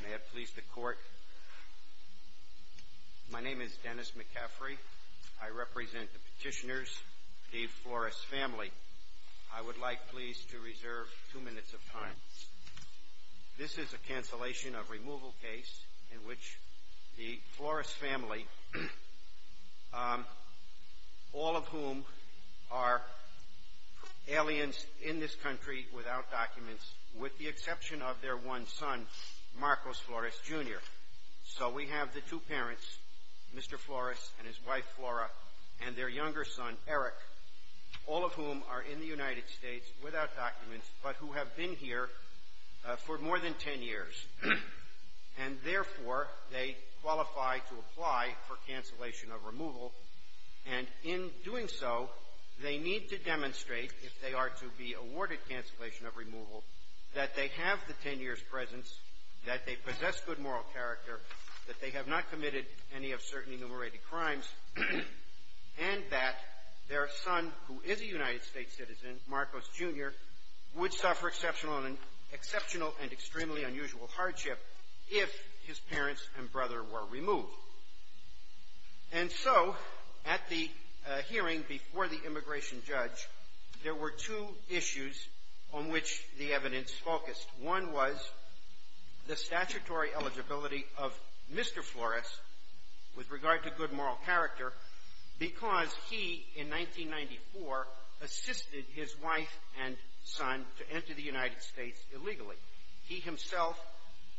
May it please the court. My name is Dennis McCaffrey. I represent the petitioners, the Flores family. I would like please to reserve two minutes of time. This is a cancellation of removal case in which the Flores family, all of whom are aliens in this country without documents, with the exception of their one son, Marcos Flores, Jr. So we have the two parents, Mr. Flores and his wife Flora, and their younger son Eric, all of whom are in the United States without documents, but who have been here for more than 10 years. And therefore, they qualify to apply for cancellation of removal. And in doing so, they need to demonstrate, if they are to be awarded cancellation of removal, that they have the 10 years' presence, that they possess good moral character, that they have not committed any of certain enumerated crimes, and that their son, who is a United States citizen, Marcos, Jr., would suffer exceptional and extremely unusual hardship if his parents and brother were removed. And so, at the hearing before the immigration judge, there were two issues on which the evidence focused. One was the statutory eligibility of Mr. Flores, with regard to good moral character, because he, in 1994, assisted his wife and son to enter the United States illegally. He himself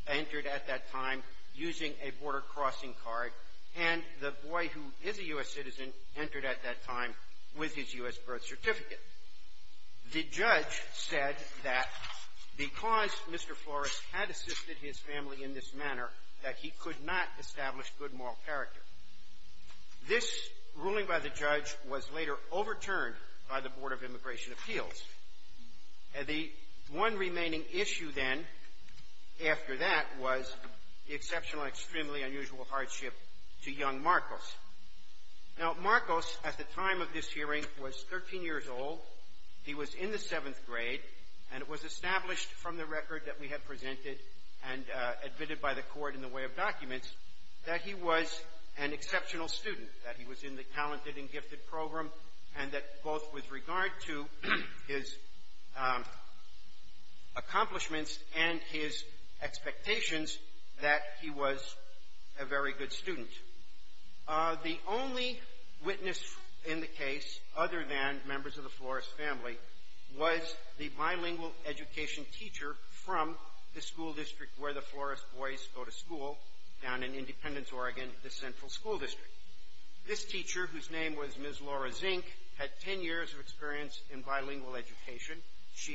entered at that time using a border-crossing card, and the boy, who is a U.S. citizen, entered at that time with his U.S. birth certificate. The judge said that because Mr. Flores had assisted his family in this manner, that he could not establish good moral character. This ruling by the judge was later overturned by the Board of Immigration Appeals. The one remaining issue, then, after that, was the exceptional and extremely unusual hardship to young Marcos. Now, Marcos, at the time of this hearing, was 13 years old. He was in the seventh grade, and it was established from the record that we had presented and admitted by the Court in the way of documents that he was an exceptional student, that he was in the Talented and Gifted program, and that both with regard to his accomplishments and his expectations, that he was a very good student. The only witness in the case, other than members of the Flores family, was the bilingual education teacher from the school district where the Flores boys go to school, down in Independence, Oregon, the central school district. This teacher, whose name was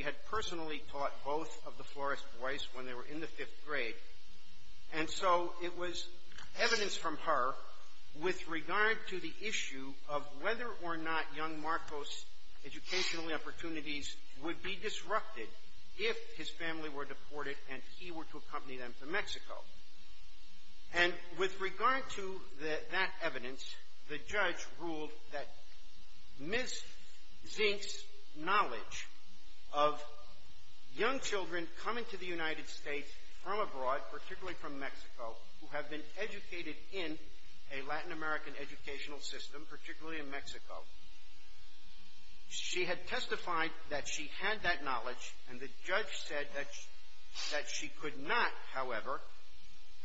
had personally taught both of the Flores boys when they were in the fifth grade. And so it was evidence from her with regard to the issue of whether or not young Marcos' educational opportunities would be disrupted if his family were deported and he were to accompany them to Mexico. And with regard to that evidence, the judge ruled that Ms. Zink's knowledge of young children coming to the United States from abroad, particularly from Mexico, who have been educated in a Latin American educational system, particularly in Mexico, she had testified that she had that knowledge, and the judge said that she could not, however,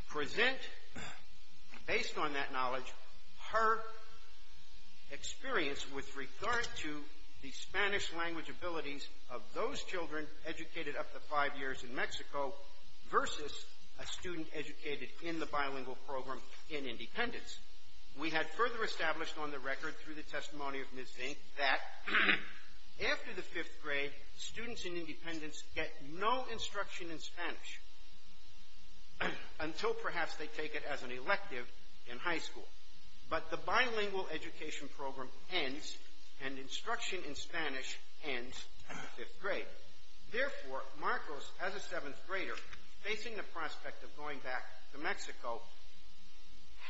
present, based on that knowledge, her experience with regard to the Spanish language abilities of those children educated up to five years in Mexico versus a student educated in the bilingual program in Independence. We had further established on the record, through the testimony of Ms. Zink, that after the fifth grade, students in Independence get no instruction in Spanish until perhaps they take it as an elective in high school. But the bilingual education program ends, and instruction in Spanish ends at the fifth grade. Therefore, Marcos, as a seventh grader, facing the prospect of going back to Mexico,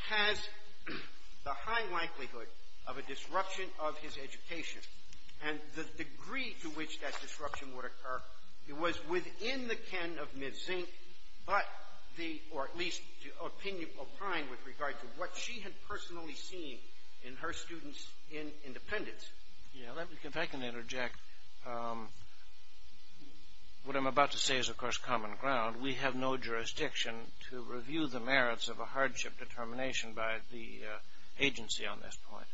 has the high likelihood of a disruption of his education. And the degree to which that disruption would occur, it was within the ken of Ms. Zink, but the, or at least in regard to what she had personally seen in her students in Independence. Yeah, if I can interject, what I'm about to say is, of course, common ground. We have no jurisdiction to review the merits of a hardship determination by the agency on this point.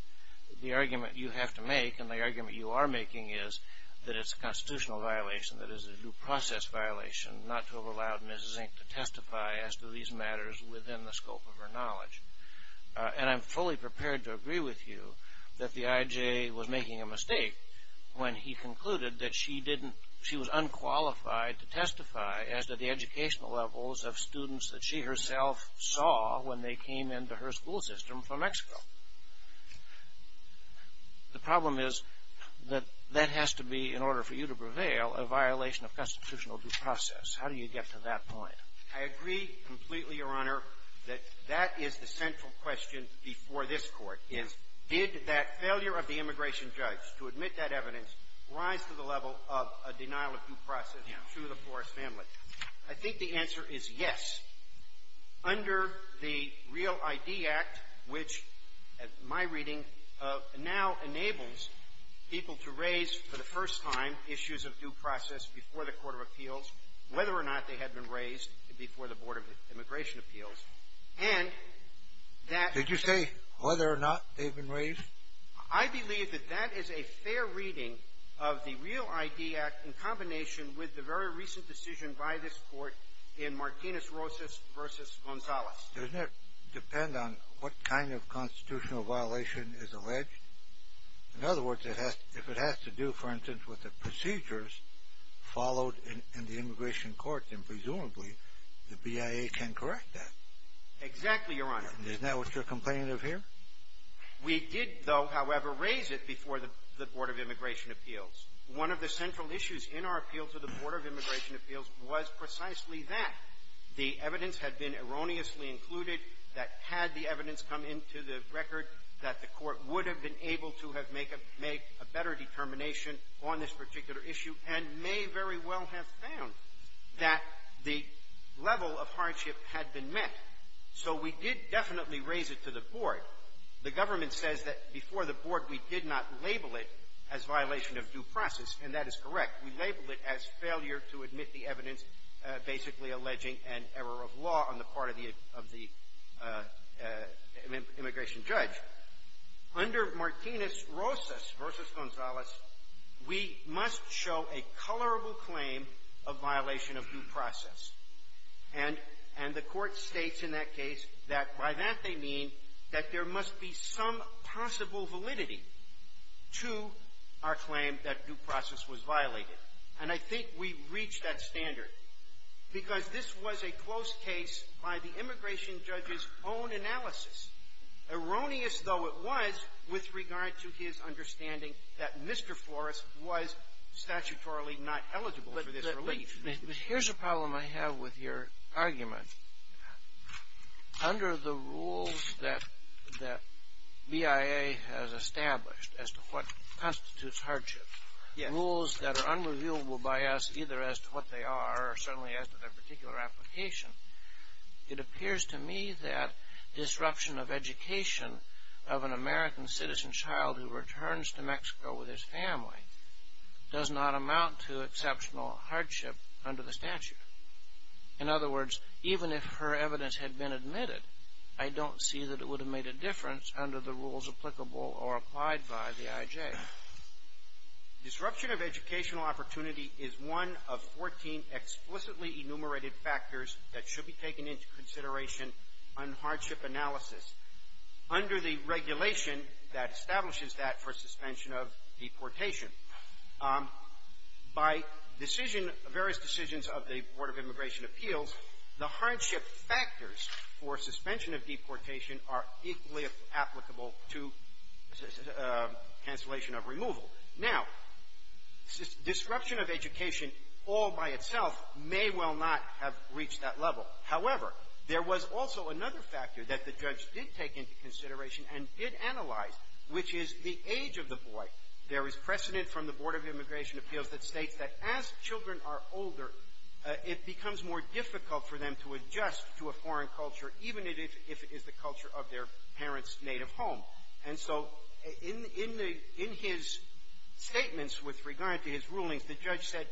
The argument you have to make, and the argument you are making, is that it's a constitutional violation, that it's a due process violation, not to have allowed Ms. Zink to testify as to these matters within the scope of her knowledge. And I'm fully prepared to agree with you that the IJ was making a mistake when he concluded that she didn't, she was unqualified to testify as to the educational levels of students that she herself saw when they came into her school system from Mexico. The problem is that that has to be, in order for you to prevail, a violation of constitutional due process. How do you get to that point? I agree completely, Your Honor, that that is the central question before this Court, is did that failure of the immigration judge to admit that evidence rise to the level of a denial of due process to the Forrest family? I think the answer is yes. Under the Real I.D. Act, which, in my reading, now enables people to raise, for the first time, issues of due process before the Court of Appeals, whether or not they had been raised before the Board of Immigration Appeals, and that... Did you say whether or not they've been raised? I believe that that is a fair reading of the Real I.D. Act in combination with the very recent decision by this Court in Martinez-Rosas v. Gonzales. Doesn't it depend on what kind of constitutional violation is alleged? In other words, if it has to do, for instance, with the procedures followed in the immigration court, then presumably the BIA can correct that. Exactly, Your Honor. Isn't that what you're complaining of here? We did, though, however, raise it before the Board of Immigration Appeals. One of the central issues in our appeal to the Board of Immigration Appeals was precisely that. The evidence had been erroneously included that, had the evidence come into the record, that the Court would have been able to have made a better determination on this particular issue and may very well have found that the level of hardship had been met. So we did definitely raise it to the Board. The government says that, before the Board, we did not label it as violation of due process, and that is correct. We labeled it as failure to admit the evidence basically alleging an error of law on the part of the immigration judge. However, under Martinez-Rosas v. Gonzalez, we must show a colorable claim of violation of due process. And the Court states in that case that by that they mean that there must be some possible validity to our claim that due process was violated. And I think we reached that standard because this was a close case by the immigration judge's own analysis. Erroneous, though, it was with regard to his understanding that Mr. Flores was statutorily not eligible for this relief. Here's a problem I have with your argument. Under the rules that BIA has established as to what constitutes hardship, rules that are unrevealable by us either as to what they are or certainly as to their particular application, it appears to me that disruption of education of an American citizen child who returns to Mexico with his family does not amount to exceptional hardship under the statute. In other words, even if her evidence had been admitted, I don't see that it would have made a difference under the rules applicable or applied by the IJ. Disruption of educational opportunity is one of 14 explicitly enumerated factors that should be taken into consideration on hardship analysis under the regulation that establishes that for suspension of deportation. By decision, various decisions of the Board of Immigration Appeals, the hardship factors for suspension of deportation are equally applicable to cancellation of removal. Now, disruption of education all by itself may well not have reached that level. However, there was also another factor that the judge did take into consideration and did analyze, which is the age of the boy. There is precedent from the Board of Immigration Appeals that states that as children are older, it becomes more difficult for them to adjust to a foreign culture, even if it is the culture of their parent's native home. And so in the — in his statements with regard to his rulings, the judge said,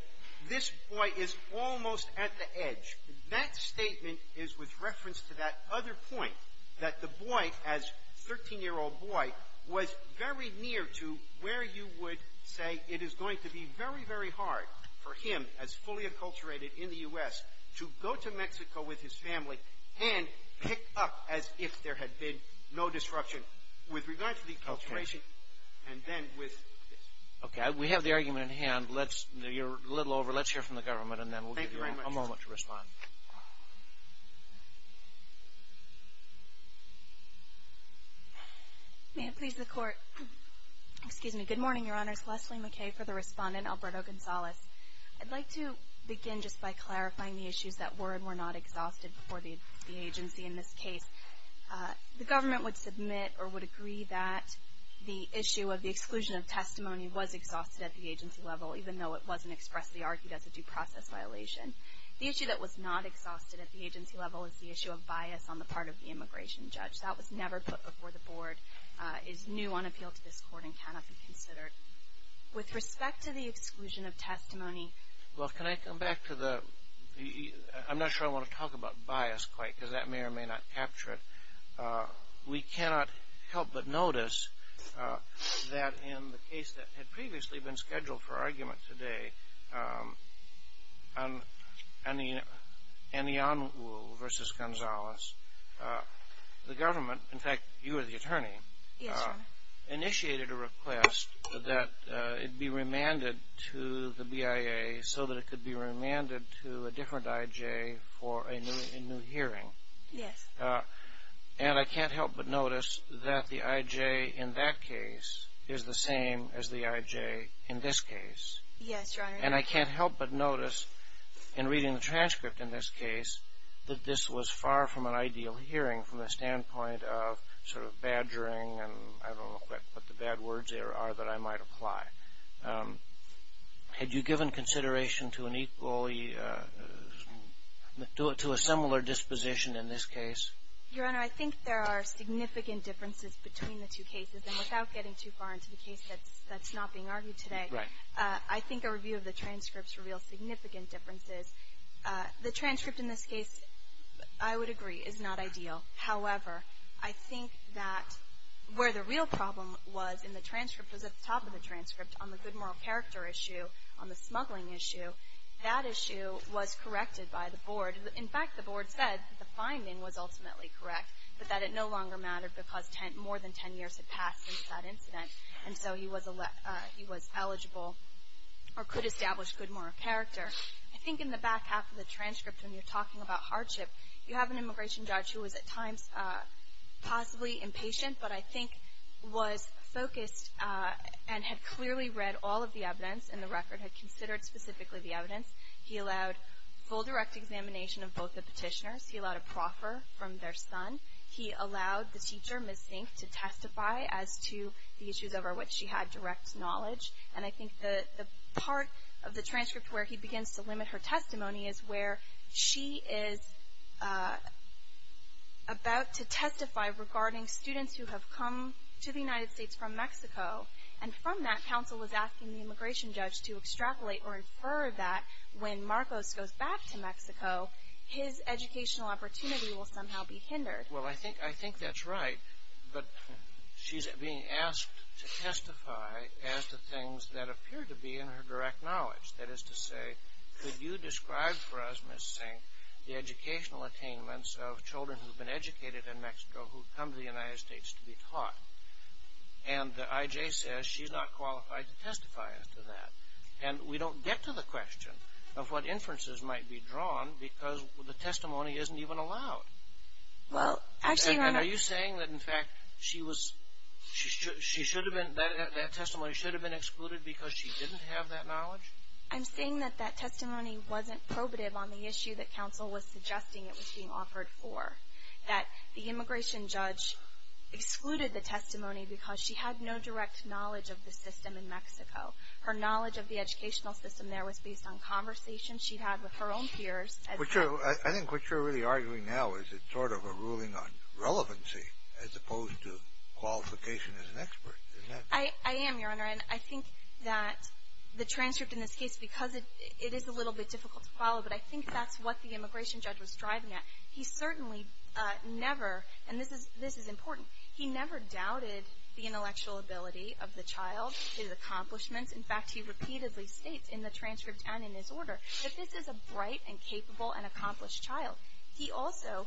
this boy is almost at the edge. That statement is with reference to that other point, that the boy, as a 13-year-old boy, was very near to where you would say it is going to be very, very hard for him, as fully acculturated in the U.S., to go to Mexico with his family and pick up as if there had been no disruption. With regard to the acculturation and then with — Okay. We have the argument at hand. You're a little over. Let's hear from the government, and then we'll give you a moment to respond. May it please the Court. Excuse me. Good morning, Your Honors. Leslie McKay for the Respondent. Alberto Gonzalez. I'd like to begin just by clarifying the issues that were and were not exhausted for the agency in this case. The government would submit or would agree that the issue of the exclusion of testimony was exhausted at the agency level, even though it wasn't expressly argued as a due process violation. The issue that was not exhausted at the agency level is the issue of bias on the part of the immigration judge. That was never put before the Board, is new on appeal to this Court, and cannot be considered. With respect to the exclusion of testimony — Well, can I come back to the — I'm not sure I want to talk about bias quite, because that may or may not capture it. We cannot help but notice that in the case that had previously been scheduled for argument today, on Anionwu versus Gonzalez, the government — in fact, you are the attorney — Yes, Your Honor. Initiated a request that it be remanded to the BIA so that it could be remanded to a new hearing. Yes. And I can't help but notice that the I.J. in that case is the same as the I.J. in this case. Yes, Your Honor. And I can't help but notice, in reading the transcript in this case, that this was far from an ideal hearing from the standpoint of sort of badgering and I don't know what the bad words there are that I might apply. Had you given consideration to an equally — to a similar disposition in this case? Your Honor, I think there are significant differences between the two cases. And without getting too far into the case that's not being argued today — Right. I think a review of the transcripts reveals significant differences. The transcript in this case, I would agree, is not ideal. However, I think that where the real problem was in the transcript, was at the top of the transcript, on the good moral character issue, on the smuggling issue, that issue was corrected by the board. In fact, the board said that the finding was ultimately correct, but that it no longer mattered because more than 10 years had passed since that incident. And so he was eligible or could establish good moral character. I think in the back half of the transcript, when you're talking about hardship, you have an immigration judge who was at times possibly impatient, but I think was focused and had clearly read all of the evidence in the record, had considered specifically the evidence. He allowed full direct examination of both the petitioners. He allowed a proffer from their son. He allowed the teacher, Ms. Sink, to testify as to the issues over which she had direct knowledge. And I think the part of the transcript where he begins to limit her testimony is where she is about to testify regarding students who have come to the United States from Mexico. And from that, counsel was asking the immigration judge to extrapolate or infer that when Marcos goes back to Mexico, his educational opportunity will somehow be hindered. Well, I think that's right, but she's being asked to testify as to things that appear to be in her direct knowledge. That is to say, could you describe for us, Ms. Sink, the educational attainments of children who have been educated in Mexico who come to the United States to be taught? And the IJ says she's not qualified to testify as to that. And we don't get to the question of what inferences might be drawn because the testimony isn't even allowed. And are you saying that, in fact, that testimony should have been excluded because she didn't have that knowledge? I'm saying that that testimony wasn't probative on the issue that counsel was suggesting it was being offered for. That the immigration judge excluded the testimony because she had no direct knowledge of the system in Mexico. Her knowledge of the educational system there was based on conversations she'd had with her own peers. I think what you're really arguing now is it's sort of a ruling on relevancy as opposed to qualification as an expert, isn't it? I am, Your Honor. And I think that the transcript in this case, because it is a little bit difficult to follow, but I think that's what the immigration judge was striving at. He certainly never – and this is important – he never doubted the intellectual ability of the child, his accomplishments. In fact, he repeatedly states in the transcript and in his order that this is a bright and capable and accomplished child. He also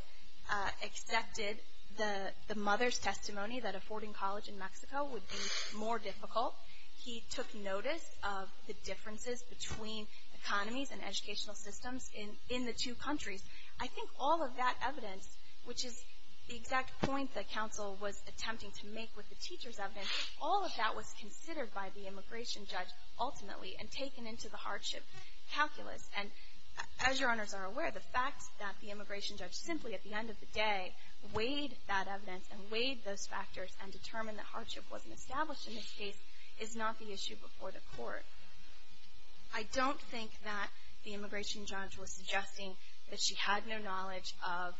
accepted the mother's testimony that affording college in Mexico would be more difficult. He took notice of the differences between economies and educational systems in the two countries. I think all of that evidence, which is the exact point that counsel was attempting to make with the teacher's evidence, all of that was considered by the immigration judge, ultimately, and taken into the hardship calculus. And as Your Honors are aware, the fact that the immigration judge simply, at the end of the day, weighed that evidence and weighed those factors and determined that hardship wasn't established in this case is not the issue before the court. I don't think that the immigration judge was suggesting that she had no knowledge of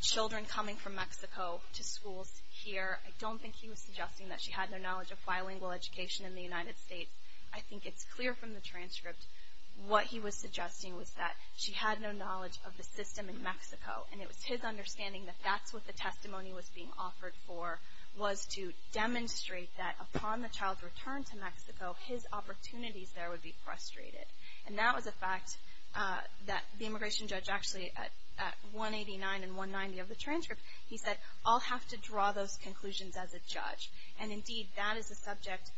children coming from Mexico to schools here. I don't think he was suggesting that she had no knowledge of bilingual education in the United States. I think it's clear from the transcript what he was suggesting was that she had no knowledge of the system in Mexico, and it was his understanding that that's what the testimony was being offered for, was to demonstrate that upon the child's return to Mexico, his opportunities there would be frustrated. And that was a fact that the immigration judge actually, at 189 and Indeed, that is a subject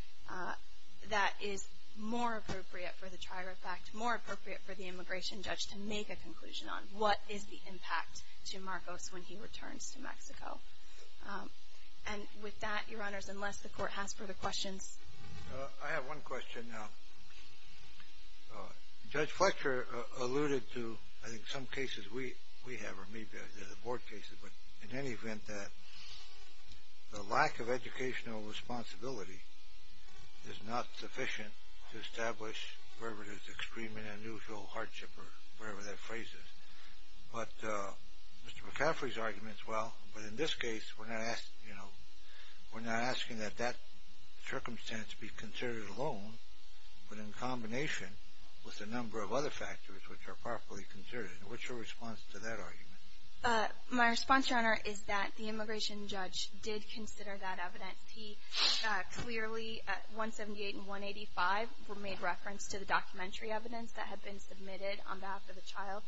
that is more appropriate for the Trier Act, more appropriate for the immigration judge to make a conclusion on. What is the impact to Marcos when he returns to Mexico? And with that, Your Honors, unless the court has further questions. I have one question now. Judge Fletcher alluded to, I think, some cases we have, or maybe they're the board cases, but in any event, that the lack of educational responsibility is not sufficient to establish wherever there's extreme and unusual hardship, or whatever that phrase is. But Mr. McCaffrey's argument is, well, but in this case, we're not asking that that circumstance be considered alone, but in combination with a number of other circumstances. What's your response to that argument? My response, Your Honor, is that the immigration judge did consider that evidence. He clearly, at 178 and 185, made reference to the documentary evidence that had been submitted on behalf of the child.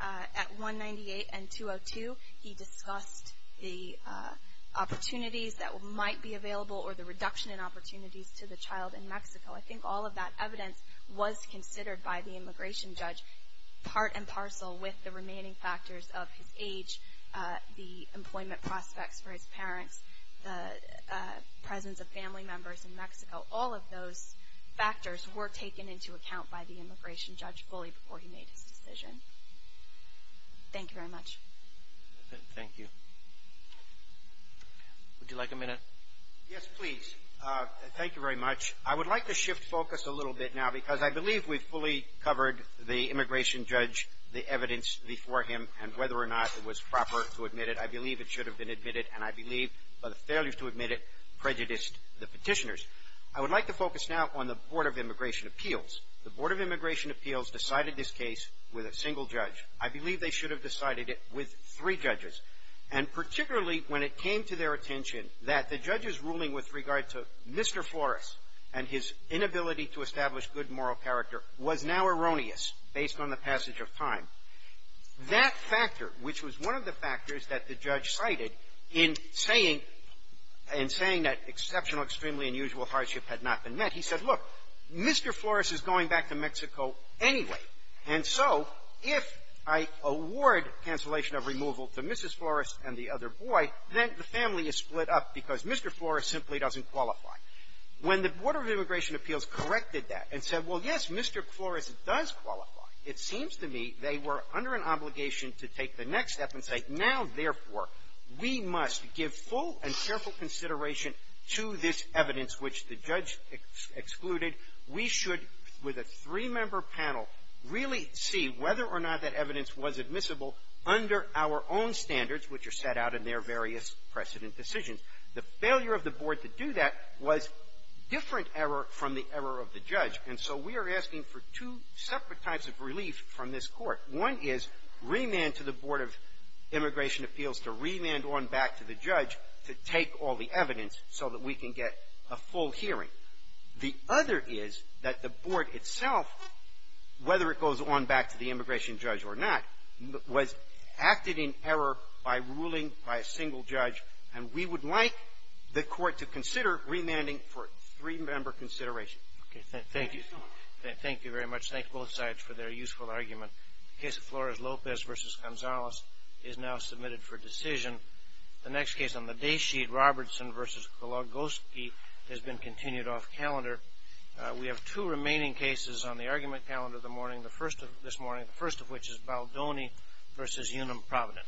At 198 and 202, he discussed the opportunities that might be available or the reduction in opportunities to the child in Mexico. I think all of that evidence was considered by the immigration judge, part and parcel with the remaining factors of his age, the employment prospects for his parents, the presence of family members in Mexico. All of those factors were taken into account by the immigration judge fully before he made his decision. Thank you very much. Thank you. Would you like a minute? Yes, please. Thank you very much. I would like to shift focus a little bit now because I believe we've fully covered the immigration judge, the evidence before him, and whether or not it was proper to admit it. I believe it should have been admitted, and I believe by the failures to admit it prejudiced the petitioners. I would like to focus now on the Board of Immigration Appeals. The Board of Immigration Appeals decided this case with a single judge. I believe they should have decided it with three judges. And particularly when it came to their attention that the judge's ruling with regard to Mr. Flores and his inability to establish good moral character was now erroneous based on the passage of time, that factor, which was one of the factors that the judge cited in saying that exceptional, extremely unusual hardship had not been met, he said, look, Mr. Flores is going back to Mexico anyway, and so if I award cancellation of removal to Mrs. Flores and the other boy, then the family is split up because Mr. Flores simply doesn't qualify. When the Board of Immigration Appeals corrected that and said, well, yes, Mr. Flores does qualify, it seems to me they were under an obligation to take the next step and say, now, therefore, we must give full and careful consideration to this evidence which the judge excluded. We should, with a three-member panel, really see whether or not that evidence was admissible under our own standards, which are set out in their various precedent decisions. The failure of the Board to do that was different error from the error of the judge, and so we are asking for two separate types of relief from this Court. One is remand to the Board of Immigration Appeals to remand on back to the judge to take all the evidence so that we can get a full hearing. The other is that the Board itself, whether it goes on back to the immigration judge or not, was acted in error by ruling by a single judge, and we would like the Court to consider remanding for three-member consideration. Thank you. Thank you very much. Thank both sides for their useful argument. The case of Flores-Lopez v. Gonzalez is now submitted for decision. The next case on the day sheet, Robertson v. Kologoski, has been continued off calendar. We have two remaining cases on the argument calendar this morning, the first of which is Baldoni v. Unum Provident. Thank you.